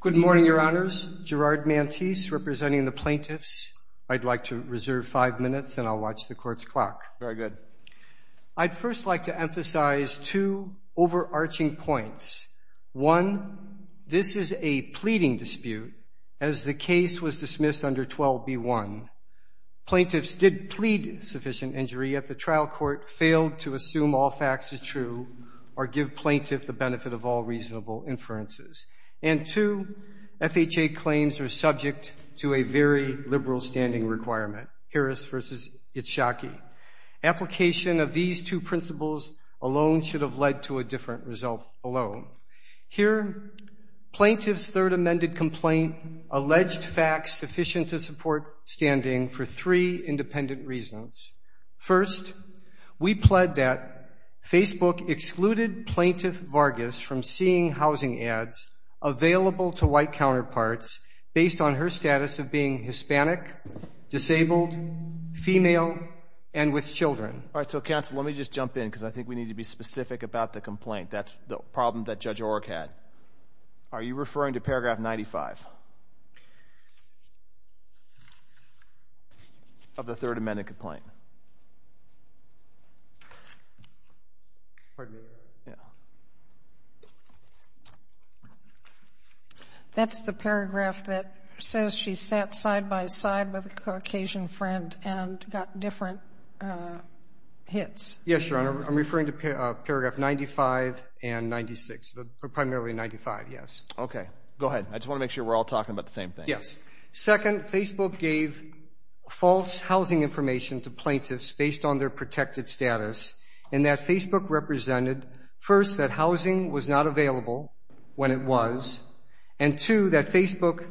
Good morning, Your Honors. Gerard Mantis, representing the plaintiffs. I'd like to reserve five minutes and I'll watch the court's clock. Very good. I'd first like to emphasize two overarching points. One, this is a pleading dispute as the case was dismissed under 12b1. Plaintiffs did plead sufficient injury if the trial court failed to assume all facts as true or give plaintiff the benefit of all reasonable inferences. And two, FHA claims are subject to a very liberal standing requirement, Harris v. Itshaki. Application of these two principles alone should have led to a different result alone. Here, plaintiff's third amended complaint alleged facts sufficient to support standing for three independent reasons. First, we plead that Facebook excluded plaintiff Vargas from seeing housing ads available to white counterparts based on her status of being Hispanic, disabled, female, and with children. All right. So, counsel, let me just jump in because I think we need to be specific about the complaint. That's the problem that Judge Orrick had. Are you referring to paragraph 95 of the third amended complaint? Pardon me. That's the paragraph that says she sat side-by-side with a Caucasian friend and got different hits. Yes, Your Honor. I'm referring to paragraph 95 and 96, primarily 95, yes. Okay. Go ahead. I just want to make sure we're all talking about the same thing. Second, Facebook gave false housing information to plaintiffs based on their protected status, and that Facebook represented, first, that housing was not available when it was, and, two, that Facebook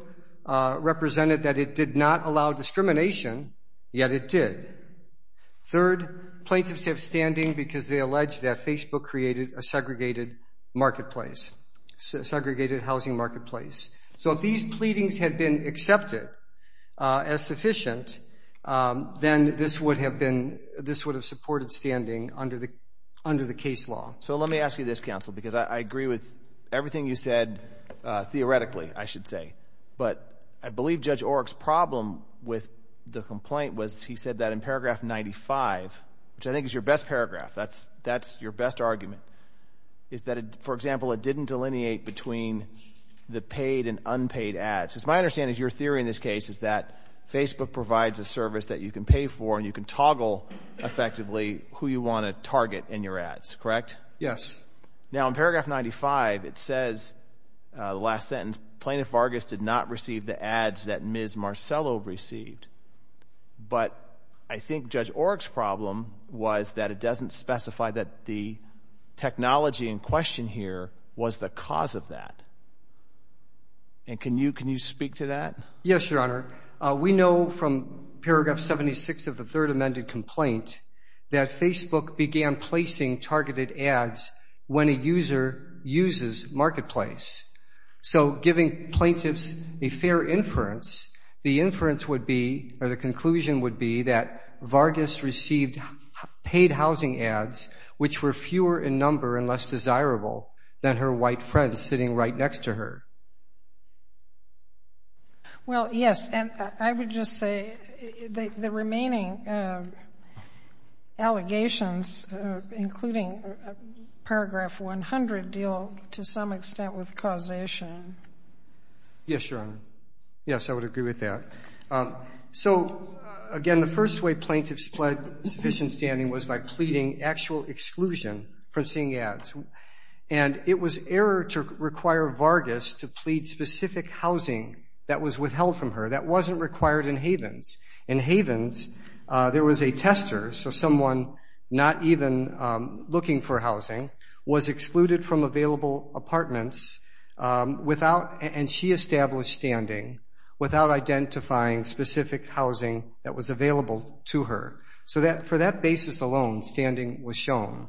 represented that it did not allow discrimination, yet it did. Third, plaintiffs have standing because they allege that Facebook created a segregated marketplace, segregated housing marketplace. So if these pleadings had been accepted as sufficient, then this would have been – this would have supported standing under the case law. So let me ask you this, counsel, because I agree with everything you said theoretically, I should say. But I believe Judge Orrick's problem with the complaint was he said that in paragraph 95, which I think is your best paragraph, that's your best argument, is that, for example, it didn't delineate between the paid and unpaid ads. Because my understanding is your theory in this case is that Facebook provides a service that you can pay for and you can toggle effectively who you want to target in your ads, correct? Yes. Now, in paragraph 95, it says, the last sentence, Plaintiff Vargas did not receive the ads that Ms. Marcello received. But I think Judge Orrick's problem was that it doesn't specify that the technology in question here was the cause of that. And can you speak to that? Yes, Your Honor. We know from paragraph 76 of the third amended complaint that Facebook began placing targeted ads when a user uses Marketplace. So giving plaintiffs a fair inference, the inference would be, or the conclusion would be, received paid housing ads which were fewer in number and less desirable than her white friends sitting right next to her. Well, yes. And I would just say the remaining allegations, including paragraph 100, deal to some extent with causation. Yes, Your Honor. Yes, I would agree with that. So, again, the first way plaintiffs pled sufficient standing was by pleading actual exclusion from seeing ads. And it was error to require Vargas to plead specific housing that was withheld from her. That wasn't required in Havens. In Havens, there was a tester, so someone not even looking for housing, was excluded from available apartments without, and she established standing without identifying specific housing that was available to her. So for that basis alone, standing was shown.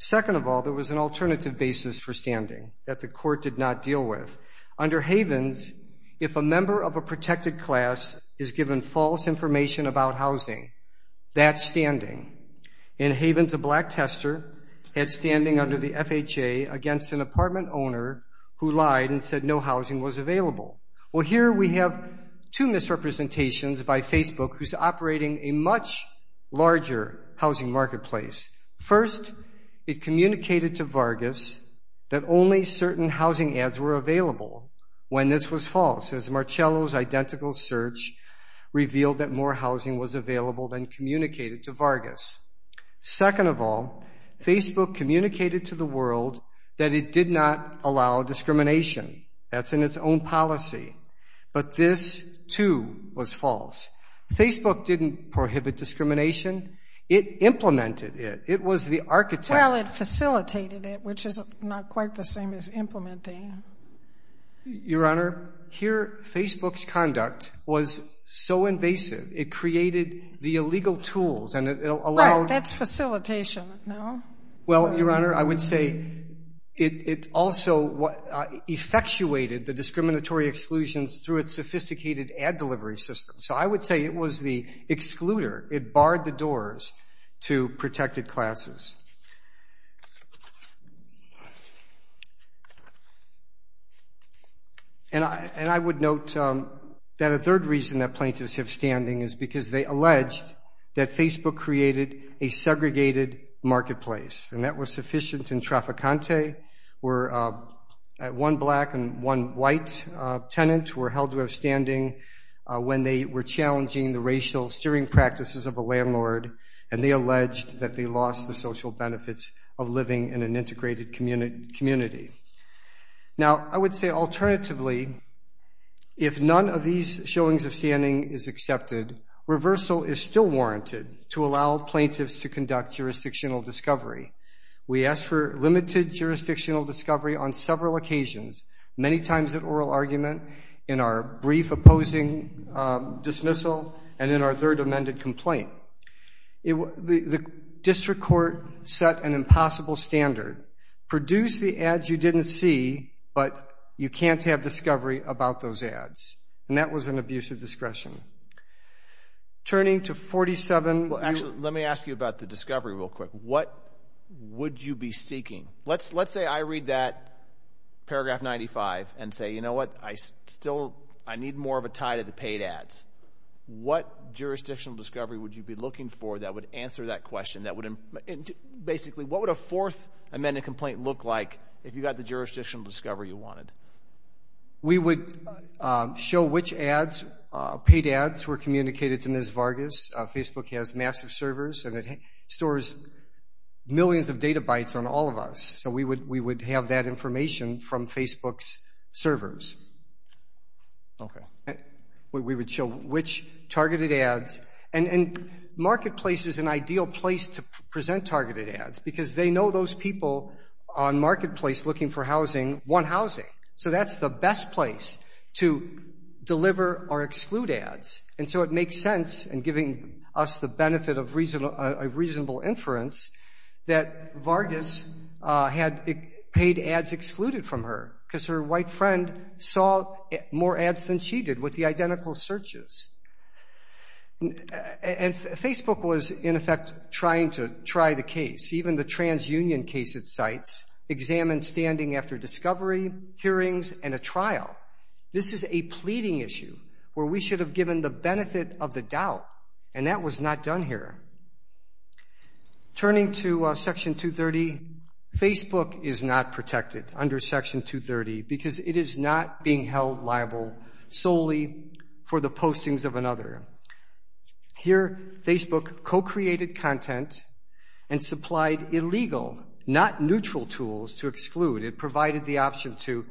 Second of all, there was an alternative basis for standing that the court did not deal with. Under Havens, if a member of a protected class is given false information about housing, that's standing. In Havens, a black tester had standing under the FHA against an apartment owner who lied and said no housing was available. Well, here we have two misrepresentations by Facebook who's operating a much larger housing marketplace. First, it communicated to Vargas that only certain housing ads were available when this was false, as Marcello's identical search revealed that more housing was available than communicated to Vargas. Second of all, Facebook communicated to the world that it did not allow discrimination. That's in its own policy. But this, too, was false. Facebook didn't prohibit discrimination. It implemented it. It was the architect. Well, it facilitated it, which is not quite the same as implementing. Your Honor, here Facebook's conduct was so invasive, it created the illegal tools and it allowed. Right, that's facilitation, no? Well, Your Honor, I would say it also effectuated the discriminatory exclusions through its sophisticated ad delivery system. So I would say it was the excluder. It barred the doors to protected classes. And I would note that a third reason that plaintiffs have standing is because they alleged that Facebook created a segregated marketplace, and that was sufficient in trafficante where one black and one white tenant were held to have standing when they were challenging the racial steering practices of a landlord, and they alleged that they lost the social benefits of living in an integrated community. Now, I would say alternatively, if none of these showings of standing is accepted, reversal is still warranted to allow plaintiffs to conduct jurisdictional discovery. We asked for limited jurisdictional discovery on several occasions, many times at oral argument, in our brief opposing dismissal, and in our third amended complaint. The district court set an impossible standard. Produce the ads you didn't see, but you can't have discovery about those ads. And that was an abuse of discretion. Turning to 47. Actually, let me ask you about the discovery real quick. What would you be seeking? Let's say I read that paragraph 95 and say, you know what, I need more of a tie to the paid ads. What jurisdictional discovery would you be looking for that would answer that question? Basically, what would a fourth amended complaint look like if you got the jurisdictional discovery you wanted? We would show which paid ads were communicated to Ms. Vargas. Facebook has massive servers, and it stores millions of data bytes on all of us. So we would have that information from Facebook's servers. We would show which targeted ads. And Marketplace is an ideal place to present targeted ads, because they know those people on Marketplace looking for housing want housing. So that's the best place to deliver or exclude ads. And so it makes sense in giving us the benefit of reasonable inference that Vargas had paid ads excluded from her, because her white friend saw more ads than she did with the identical searches. And Facebook was, in effect, trying to try the case. Even the transunion case it cites examined standing after discovery, hearings, and a trial. This is a pleading issue where we should have given the benefit of the doubt, and that was not done here. Turning to Section 230, Facebook is not protected under Section 230, because it is not being held liable solely for the postings of another. Here, Facebook co-created content and supplied illegal, not neutral, tools to exclude. It provided the option to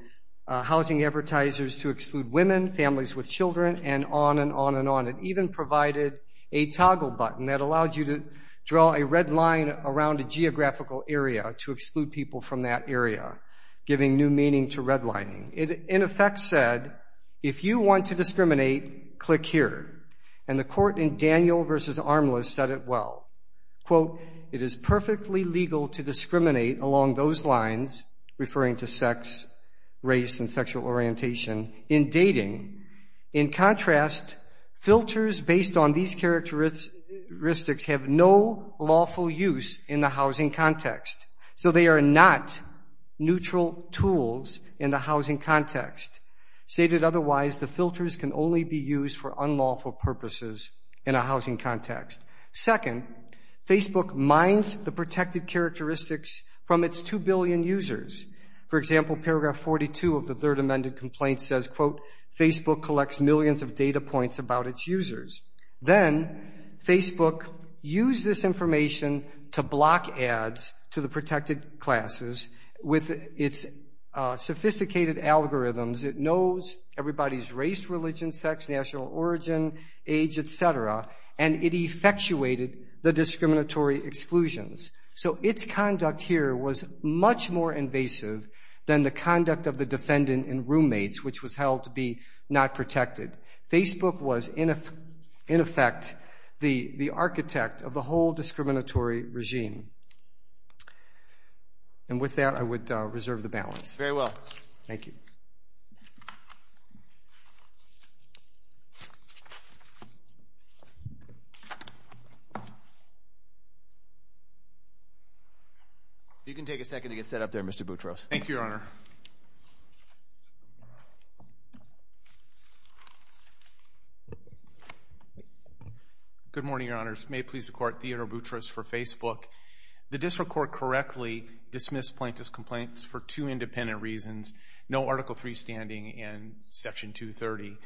housing advertisers to exclude women, families with children, and on and on and on. It even provided a toggle button that allowed you to draw a red line around a geographical area to exclude people from that area, giving new meaning to redlining. It, in effect, said, if you want to discriminate, click here. And the court in Daniel v. Armless said it well. Quote, it is perfectly legal to discriminate along those lines, referring to sex, race, and sexual orientation, in dating. In contrast, filters based on these characteristics have no lawful use in the housing context. So they are not neutral tools in the housing context. Stated otherwise, the filters can only be used for unlawful purposes in a housing context. Second, Facebook mines the protected characteristics from its 2 billion users. For example, Paragraph 42 of the Third Amended Complaint says, quote, Facebook collects millions of data points about its users. Then Facebook uses this information to block ads to the protected classes with its sophisticated algorithms. It knows everybody's race, religion, sex, national origin, age, et cetera, and it effectuated the discriminatory exclusions. So its conduct here was much more invasive than the conduct of the defendant in Roommates, which was held to be not protected. Facebook was, in effect, the architect of the whole discriminatory regime. And with that, I would reserve the balance. Thank you. You can take a second to get set up there, Mr. Boutros. Thank you, Your Honor. Good morning, Your Honors. May it please the Court, Theodore Boutros for Facebook. The district court correctly dismissed plaintiff's complaints for two independent reasons, no Article III standing in Section 230.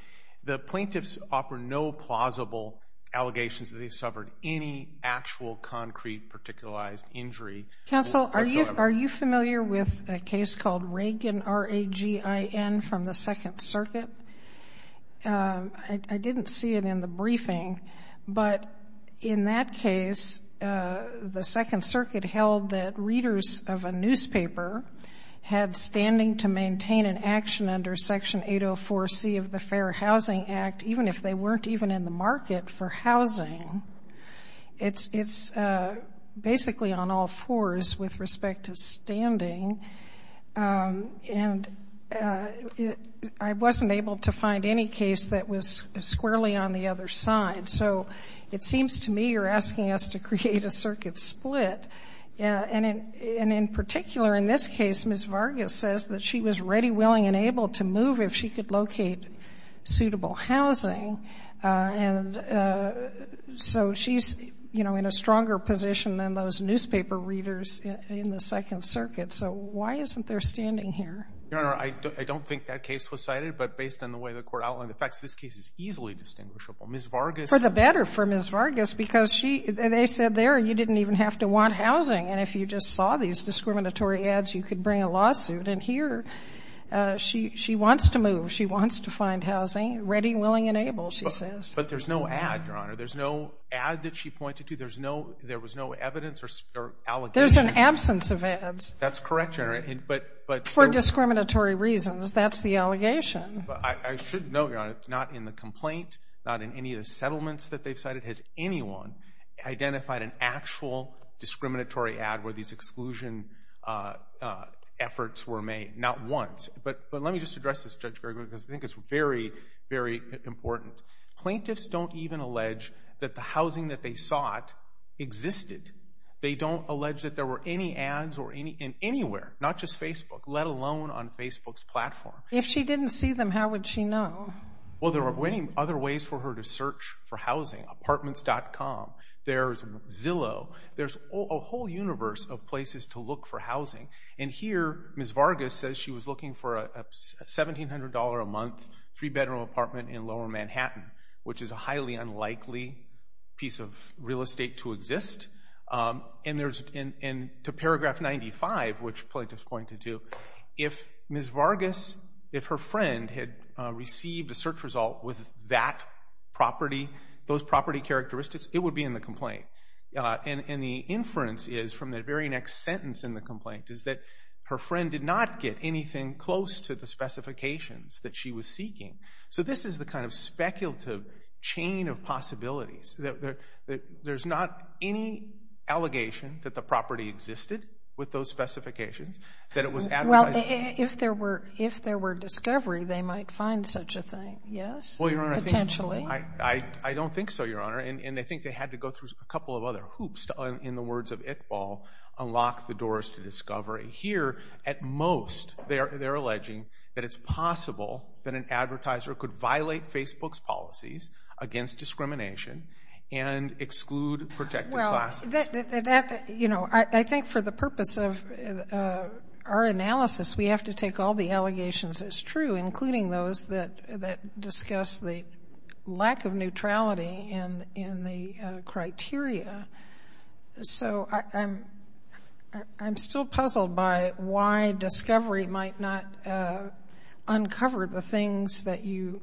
The plaintiffs offer no plausible allegations that they suffered any actual concrete particularized injury. Counsel, are you familiar with a case called Reagan, R-A-G-I-N, from the Second Circuit? I didn't see it in the briefing. But in that case, the Second Circuit held that readers of a newspaper had standing to maintain an action under Section 804C of the Fair Housing Act, even if they weren't even in the market for housing. It's basically on all fours with respect to standing. And I wasn't able to find any case that was squarely on the other side. So it seems to me you're asking us to create a circuit split. And in particular, in this case, Ms. Vargas says that she was ready, willing, and able to move if she could locate suitable housing. And so she's, you know, in a stronger position than those newspaper readers in the Second Circuit. So why isn't there standing here? Your Honor, I don't think that case was cited. But based on the way the court outlined the facts, this case is easily distinguishable. Ms. Vargas – For the better for Ms. Vargas because she – they said there you didn't even have to want housing. And if you just saw these discriminatory ads, you could bring a lawsuit. And here she wants to move. She wants to find housing. Ready, willing, and able, she says. But there's no ad, Your Honor. There's no ad that she pointed to. There was no evidence or allegations. There's an absence of ads. That's correct, Your Honor. But – For discriminatory reasons. That's the allegation. I should note, Your Honor, not in the complaint, not in any of the settlements that they've cited, has anyone identified an actual discriminatory ad where these exclusion efforts were made. Not once. But let me just address this, Judge Gergen, because I think it's very, very important. Plaintiffs don't even allege that the housing that they sought existed. They don't allege that there were any ads in anywhere, not just Facebook, let alone on Facebook's platform. If she didn't see them, how would she know? Well, there are many other ways for her to search for housing. Apartments.com. There's Zillow. There's a whole universe of places to look for housing. And here Ms. Vargas says she was looking for a $1,700 a month three-bedroom apartment in lower Manhattan, which is a highly unlikely piece of real estate to exist. And there's – and to paragraph 95, which plaintiff's going to do, if Ms. Vargas – if her friend had received a search result with that property, those property characteristics, it would be in the complaint. And the inference is, from the very next sentence in the complaint, is that her friend did not get anything close to the specifications that she was seeking. So this is the kind of speculative chain of possibilities. There's not any allegation that the property existed with those specifications, that it was advertised. Well, if there were discovery, they might find such a thing, yes? Potentially. Well, Your Honor, I don't think so, Your Honor. And I think they had to go through a couple of other hoops, in the words of Iqbal, unlock the doors to discovery. Here, at most, they're alleging that it's possible that an advertiser could violate Facebook's policies against discrimination and exclude protected classes. Well, you know, I think for the purpose of our analysis, we have to take all the allegations as true, including those that discuss the lack of neutrality in the criteria. So I'm still puzzled by why discovery might not uncover the things that you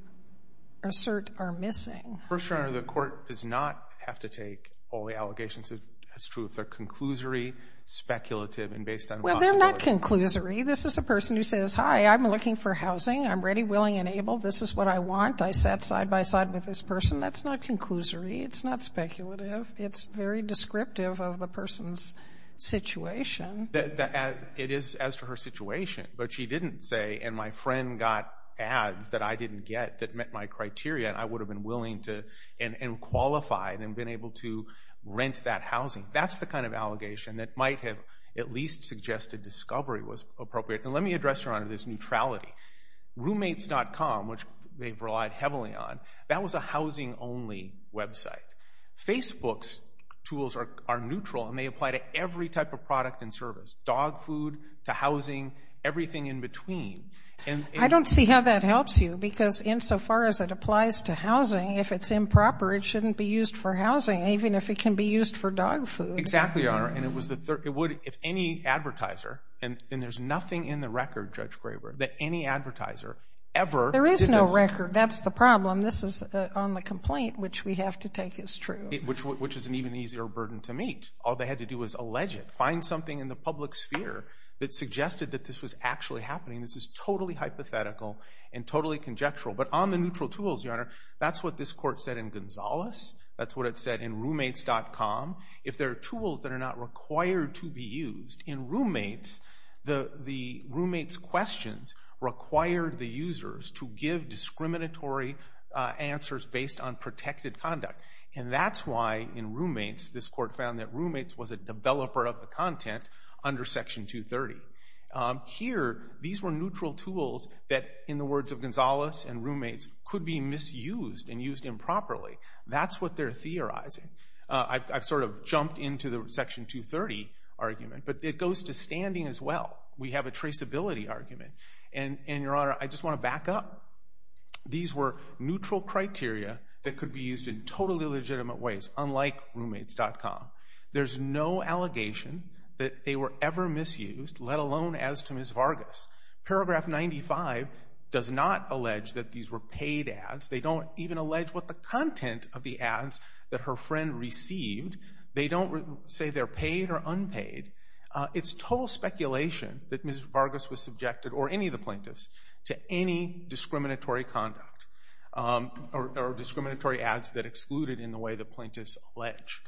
assert are missing. First, Your Honor, the court does not have to take all the allegations as true. They're conclusory, speculative, and based on possibility. Well, they're not conclusory. This is a person who says, hi, I'm looking for housing. I'm ready, willing, and able. This is what I want. I sat side-by-side with this person. That's not conclusory. It's not speculative. It's very descriptive of the person's situation. It is as to her situation. But she didn't say, and my friend got ads that I didn't get that met my criteria, and I would have been willing to and qualified and been able to rent that housing. That's the kind of allegation that might have at least suggested discovery was appropriate. And let me address, Your Honor, this neutrality. Roommates.com, which they've relied heavily on, that was a housing-only website. Facebook's tools are neutral, and they apply to every type of product and service, dog food to housing, everything in between. I don't see how that helps you, because insofar as it applies to housing, if it's improper it shouldn't be used for housing, even if it can be used for dog food. Exactly, Your Honor. It would if any advertiser, and there's nothing in the record, Judge Graber, that any advertiser ever did this. There is no record. That's the problem. And this is on the complaint, which we have to take as true. Which is an even easier burden to meet. All they had to do was allege it. Find something in the public sphere that suggested that this was actually happening. This is totally hypothetical and totally conjectural. But on the neutral tools, Your Honor, that's what this court said in Gonzales. That's what it said in Roommates.com. If there are tools that are not required to be used, in Roommates, the Roommates questions required the users to give discriminatory answers based on protected conduct. And that's why, in Roommates, this court found that Roommates was a developer of the content under Section 230. Here, these were neutral tools that, in the words of Gonzales and Roommates, could be misused and used improperly. That's what they're theorizing. I've sort of jumped into the Section 230 argument, but it goes to standing as well. We have a traceability argument. And, Your Honor, I just want to back up. These were neutral criteria that could be used in totally legitimate ways, unlike Roommates.com. There's no allegation that they were ever misused, let alone as to Ms. Vargas. Paragraph 95 does not allege that these were paid ads. They don't even allege what the content of the ads that her friend received. They don't say they're paid or unpaid. It's total speculation that Ms. Vargas was subjected, or any of the plaintiffs, to any discriminatory conduct or discriminatory ads that excluded in the way the plaintiffs allege.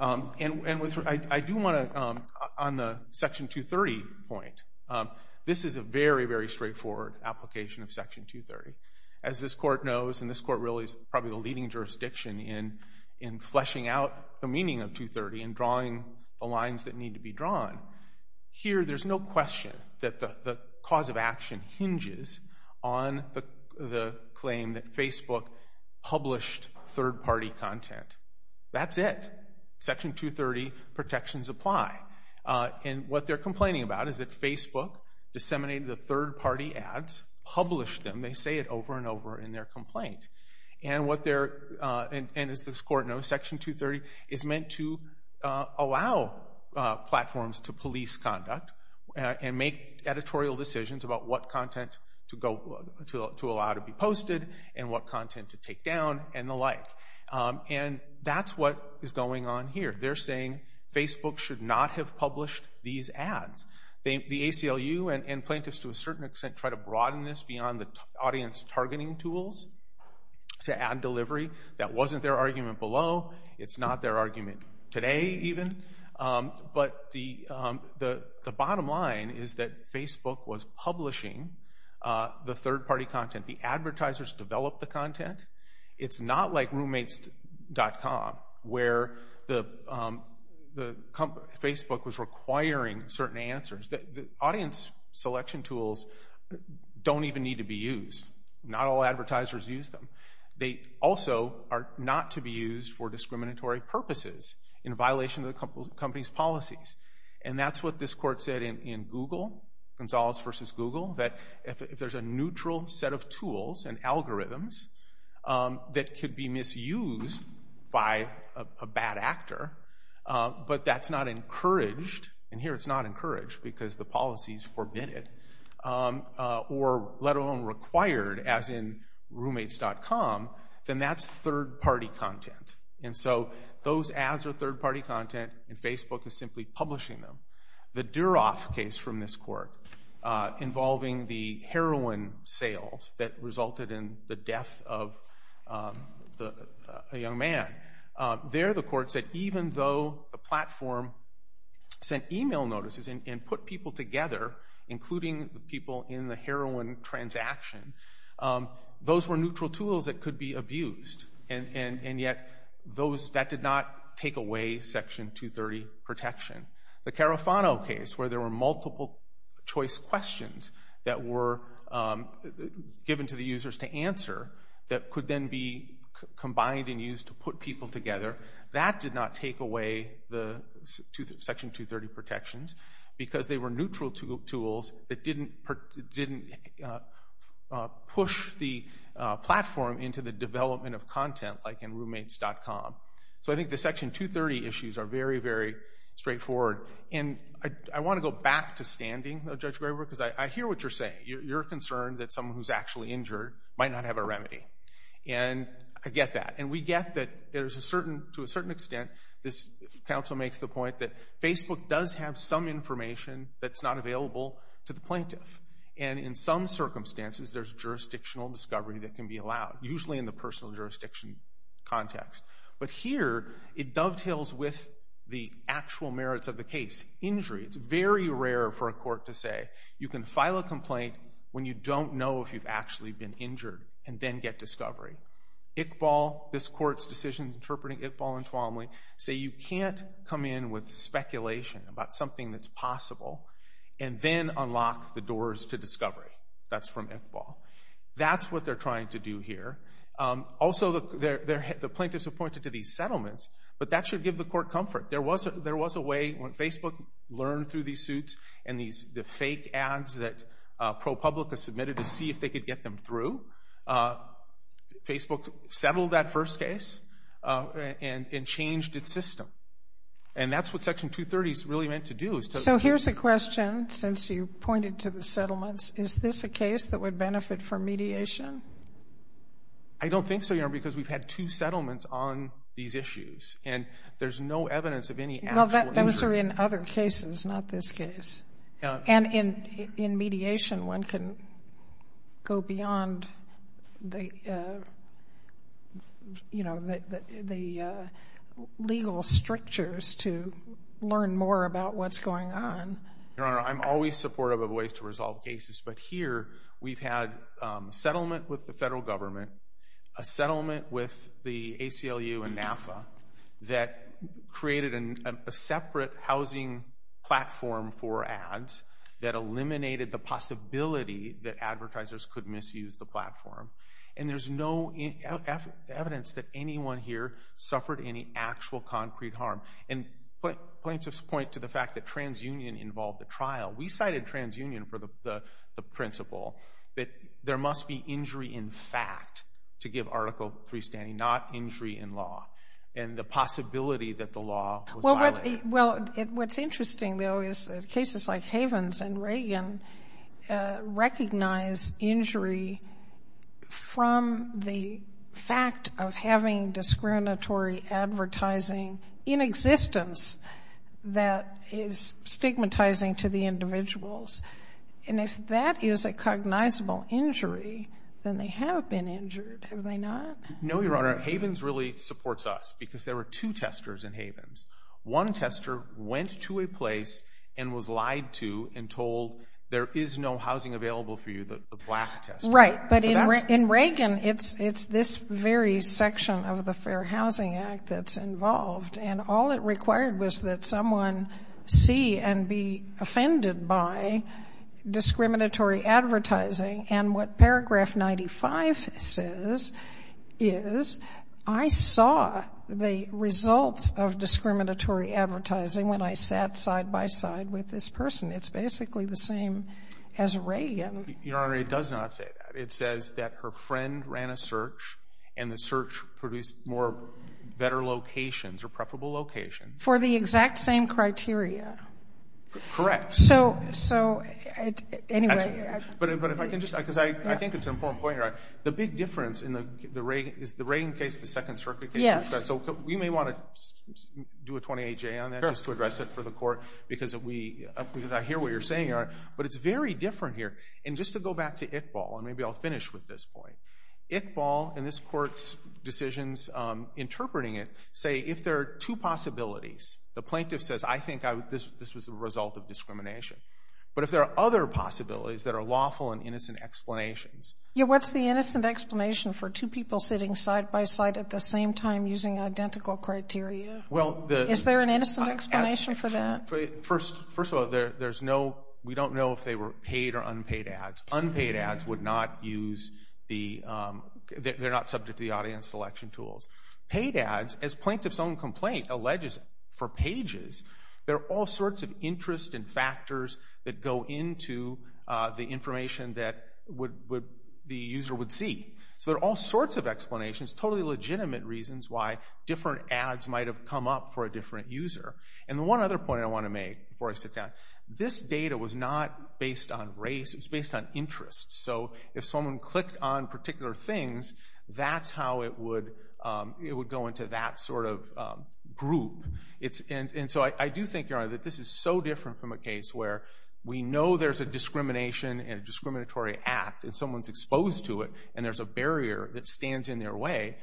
And I do want to, on the Section 230 point, this is a very, very straightforward application of Section 230. As this court knows, and this court really is probably the leading jurisdiction in fleshing out the meaning of 230 and drawing the lines that need to be drawn, here there's no question that the cause of action hinges on the claim that Facebook published third-party content. That's it. Section 230 protections apply. And what they're complaining about is that Facebook disseminated the third-party ads, published them. They say it over and over in their complaint. And as this court knows, Section 230 is meant to allow platforms to police conduct and make editorial decisions about what content to allow to be posted and what content to take down and the like. And that's what is going on here. They're saying Facebook should not have published these ads. The ACLU and plaintiffs, to a certain extent, try to broaden this beyond the audience targeting tools to add delivery. That wasn't their argument below. It's not their argument today even. But the bottom line is that Facebook was publishing the third-party content. The advertisers developed the content. It's not like roommates.com where Facebook was requiring certain answers. The audience selection tools don't even need to be used. Not all advertisers use them. They also are not to be used for discriminatory purposes in violation of the company's policies. And that's what this court said in Google, Gonzales v. Google, that if there's a neutral set of tools and algorithms that could be misused by a bad actor, but that's not encouraged, and here it's not encouraged because the policies forbid it, or let alone required, as in roommates.com, then that's third-party content. And so those ads are third-party content, and Facebook is simply publishing them. The Duroff case from this court involving the heroin sales that resulted in the death of a young man, there the court said even though the platform sent email notices and put people together, including the people in the heroin transaction, those were neutral tools that could be abused, and yet that did not take away Section 230 protection. The Carafano case where there were multiple-choice questions that were given to the users to answer that could then be combined and used to put people together, that did not take away the Section 230 protections because they were neutral tools that didn't push the platform into the development of content like in roommates.com. So I think the Section 230 issues are very, very straightforward. And I want to go back to standing, Judge Graber, because I hear what you're saying. You're concerned that someone who's actually injured might not have a remedy, and I get that. And we get that there's a certain, to a certain extent, this counsel makes the point that Facebook does have some information that's not available to the plaintiff, and in some circumstances there's jurisdictional discovery that can be allowed, usually in the personal jurisdiction context. But here it dovetails with the actual merits of the case. Injury, it's very rare for a court to say you can file a complaint when you don't know if you've actually been injured and then get discovery. Iqbal, this court's decision interpreting Iqbal and Tuomly, say you can't come in with speculation about something that's possible and then unlock the doors to discovery. That's from Iqbal. That's what they're trying to do here. Also, the plaintiffs appointed to these settlements, but that should give the court comfort. There was a way when Facebook learned through these suits and the fake ads that ProPublica submitted to see if they could get them through, Facebook settled that first case and changed its system. And that's what Section 230 is really meant to do. So here's a question, since you pointed to the settlements. Is this a case that would benefit from mediation? I don't think so, Your Honor, because we've had two settlements on these issues, and there's no evidence of any actual injury. Those are in other cases, not this case. And in mediation, one can go beyond the legal strictures to learn more about what's going on. Your Honor, I'm always supportive of ways to resolve cases, but here we've had a settlement with the federal government, a settlement with the ACLU and NAFTA that created a separate housing platform for ads that eliminated the possibility that advertisers could misuse the platform. And there's no evidence that anyone here suffered any actual concrete harm. And plaintiffs point to the fact that transunion involved the trial. We cited transunion for the principle that there must be injury in fact to give article 3 standing, not injury in law, and the possibility that the law was violated. Well, what's interesting, though, is that cases like Havens and Reagan recognize injury from the fact of having discriminatory advertising in existence that is stigmatizing to the individuals. And if that is a cognizable injury, then they have been injured, have they not? No, Your Honor. Havens really supports us because there were two testers in Havens. One tester went to a place and was lied to and told, there is no housing available for you, the black tester. Right. But in Reagan, it's this very section of the Fair Housing Act that's involved, and all it required was that someone see and be offended by discriminatory advertising. And what paragraph 95 says is, I saw the results of discriminatory advertising when I sat side by side with this person. It's basically the same as Reagan. Your Honor, it does not say that. It says that her friend ran a search, and the search produced more better locations or preferable locations. For the exact same criteria. Correct. So, anyway. But if I can just, because I think it's an important point, Your Honor. The big difference in the Reagan case is the Second Circuit case. Yes. So we may want to do a 28-J on that just to address it for the Court because I hear what you're saying, Your Honor. But it's very different here. And just to go back to Iqbal, and maybe I'll finish with this point. Iqbal and this Court's decisions interpreting it say if there are two possibilities. The plaintiff says, I think this was the result of discrimination. But if there are other possibilities that are lawful and innocent explanations. Yeah, what's the innocent explanation for two people sitting side by side at the same time using identical criteria? Is there an innocent explanation for that? First of all, there's no, we don't know if they were paid or unpaid ads. Unpaid ads would not use the, they're not subject to the audience selection tools. Paid ads, as plaintiff's own complaint alleges for pages, there are all sorts of interest and factors that go into the information that the user would see. So there are all sorts of explanations, totally legitimate reasons why different ads might have come up for a different user. And the one other point I want to make before I sit down, this data was not based on race, it was based on interest. So if someone clicked on particular things, that's how it would go into that sort of group. And so I do think, Your Honor, that this is so different from a case where we know there's a discrimination and a discriminatory act, and someone's exposed to it, and there's a barrier that stands in their way.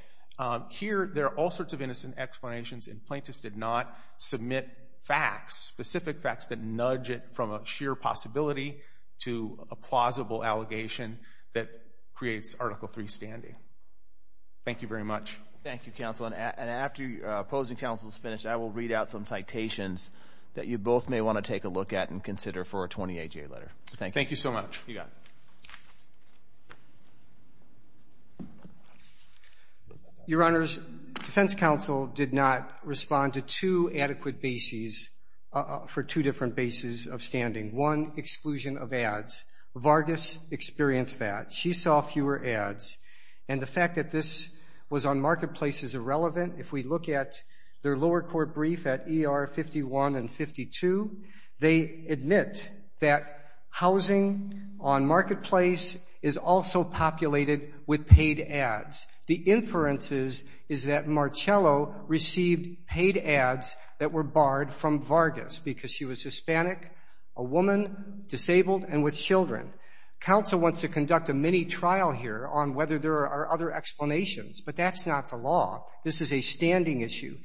Here, there are all sorts of innocent explanations, and plaintiffs did not submit facts, specific facts that nudge it from a sheer possibility to a plausible allegation that creates Article III standing. Thank you very much. Thank you, counsel. And after opposing counsel is finished, I will read out some citations that you both may want to take a look at and consider for a 20-AJ letter. Thank you. Thank you so much. You got it. Your Honors, defense counsel did not respond to two adequate bases for two different bases of standing. One, exclusion of ads. Vargas experienced that. She saw fewer ads. And the fact that this was on Marketplace is irrelevant. If we look at their lower court brief at ER 51 and 52, they admit that housing on Marketplace is also populated with paid ads. The inferences is that Marcello received paid ads that were barred from Vargas because she was Hispanic, a woman, disabled, and with children. Counsel wants to conduct a mini-trial here on whether there are other explanations, but that's not the law. This is a standing issue.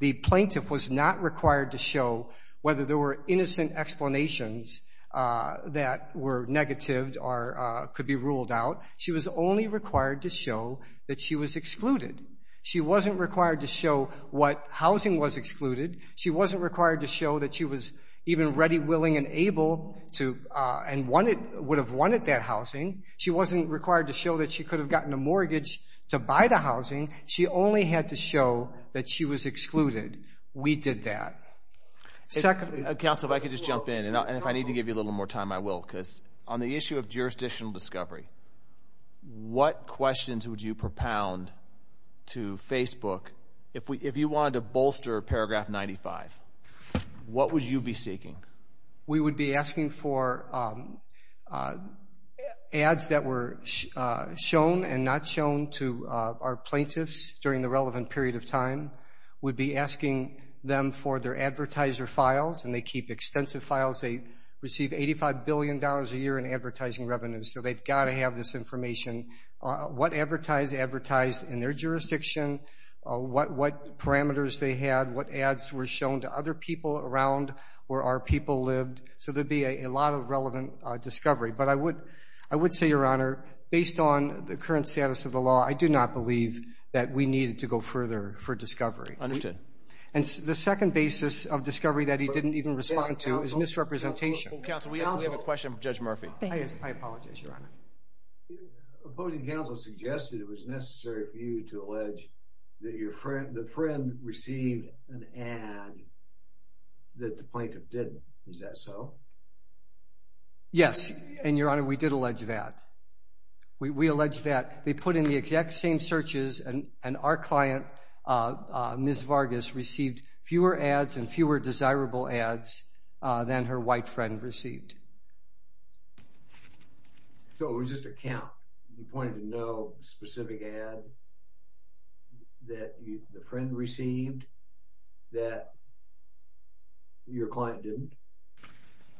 The plaintiff was not required to show whether there were innocent explanations that were negative or could be ruled out. She was only required to show that she was excluded. She wasn't required to show what housing was excluded. She wasn't required to show that she was even ready, willing, and able and would have wanted that housing. She wasn't required to show that she could have gotten a mortgage to buy the housing. She only had to show that she was excluded. We did that. Counsel, if I could just jump in, and if I need to give you a little more time, I will. Because on the issue of jurisdictional discovery, what questions would you propound to Facebook if you wanted to bolster Paragraph 95? What would you be seeking? We would be asking for ads that were shown and not shown to our plaintiffs during the relevant period of time. We'd be asking them for their advertiser files, and they keep extensive files. They receive $85 billion a year in advertising revenue, so they've got to have this information. What advertiser advertised in their jurisdiction, what parameters they had, what ads were shown to other people around where our people lived. So there would be a lot of relevant discovery. But I would say, Your Honor, based on the current status of the law, I do not believe that we needed to go further for discovery. Understood. And the second basis of discovery that he didn't even respond to is misrepresentation. Counsel, we have a question for Judge Murphy. I apologize, Your Honor. Opposing counsel suggested it was necessary for you to allege that the friend received an ad that the plaintiff didn't. Is that so? Yes, and, Your Honor, we did allege that. We allege that. They put in the exact same searches, and our client, Ms. Vargas, received fewer ads and fewer desirable ads than her white friend received. So it was just a count? You pointed to no specific ad that the friend received that your client didn't?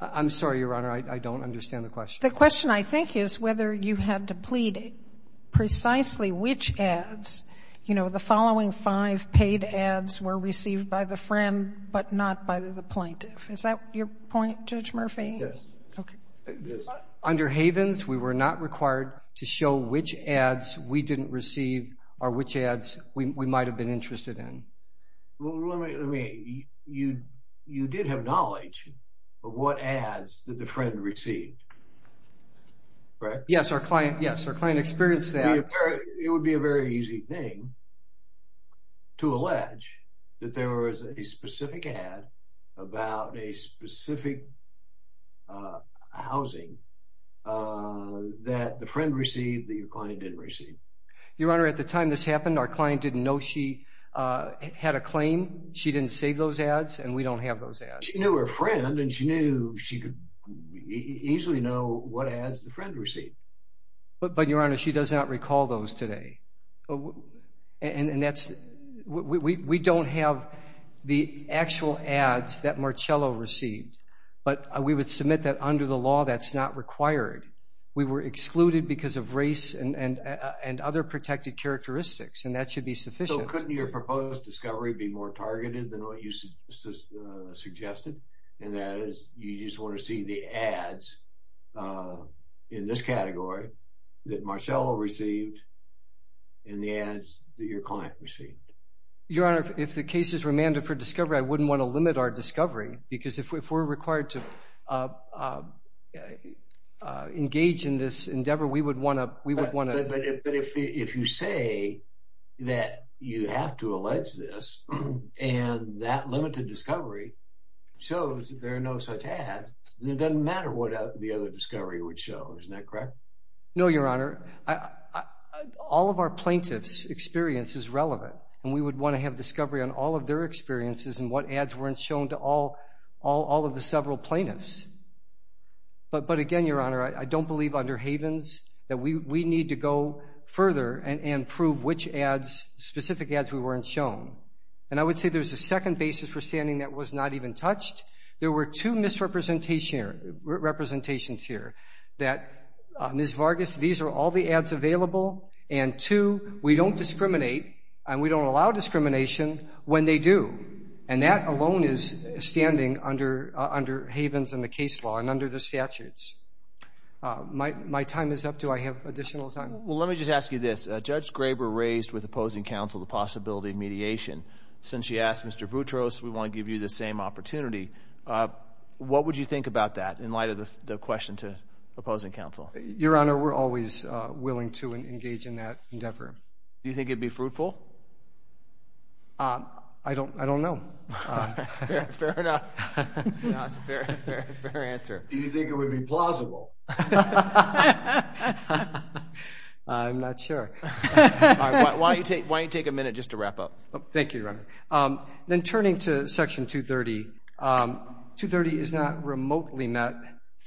I'm sorry, Your Honor, I don't understand the question. The question, I think, is whether you had to plead precisely which ads, you know, the following five paid ads were received by the friend but not by the plaintiff. Is that your point, Judge Murphy? Yes. Under Havens, we were not required to show which ads we didn't receive or which ads we might have been interested in. Well, let me, you did have knowledge of what ads did the friend receive, right? Yes, our client experienced that. It would be a very easy thing to allege that there was a specific ad about a specific housing that the friend received that your client didn't receive. Your Honor, at the time this happened, our client didn't know she had a claim. She didn't save those ads, and we don't have those ads. She knew her friend, and she knew she could easily know what ads the friend received. But, Your Honor, she does not recall those today. And that's, we don't have the actual ads that Marcello received, but we would submit that under the law that's not required. We were excluded because of race and other protected characteristics, and that should be sufficient. So couldn't your proposed discovery be more targeted than what you suggested, and that is you just want to see the ads in this category that Marcello received and the ads that your client received? Your Honor, if the case is remanded for discovery, I wouldn't want to limit our discovery because if we're required to engage in this endeavor, we would want to— But if you say that you have to allege this, and that limited discovery shows that there are no such ads, then it doesn't matter what the other discovery would show. Isn't that correct? No, Your Honor. All of our plaintiff's experience is relevant, and we would want to have discovery on all of their experiences and what ads weren't shown to all of the several plaintiffs. But again, Your Honor, I don't believe under Havens that we need to go further and prove which specific ads we weren't shown. And I would say there's a second basis for standing that was not even touched. There were two misrepresentations here, that Ms. Vargas, these are all the ads available, and two, we don't discriminate and we don't allow discrimination when they do. And that alone is standing under Havens and the case law and under the statutes. My time is up. Do I have additional time? Well, let me just ask you this. Since you asked Mr. Boutros, we want to give you the same opportunity. What would you think about that in light of the question to opposing counsel? Your Honor, we're always willing to engage in that endeavor. Do you think it would be fruitful? I don't know. Fair enough. That's a fair answer. Do you think it would be plausible? I'm not sure. Why don't you take a minute just to wrap up. Thank you, Your Honor. Then turning to Section 230, 230 is not remotely met.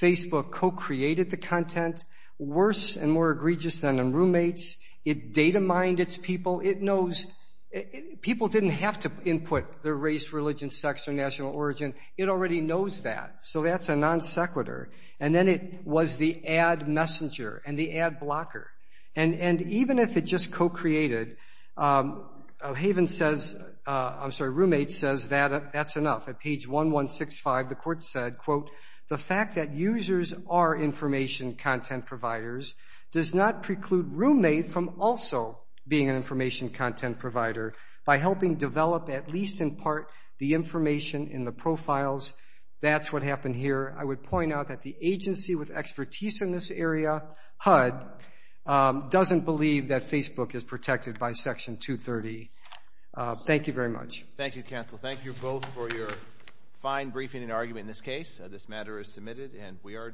Facebook co-created the content, worse and more egregious than in roommates. It data-mined its people. It knows people didn't have to input their race, religion, sex, or national origin. It already knows that, so that's a non-sequitur. And then it was the ad messenger and the ad blocker. And even if it just co-created, Hayven says, I'm sorry, Roommate says that's enough. At page 1165, the court said, quote, the fact that users are information content providers does not preclude Roommate from also being an information content provider by helping develop, at least in part, the information in the profiles. That's what happened here. I would point out that the agency with expertise in this area, HUD, doesn't believe that Facebook is protected by Section 230. Thank you very much. Thank you, counsel. Thank you both for your fine briefing and argument in this case. This matter is submitted, and we are adjourned.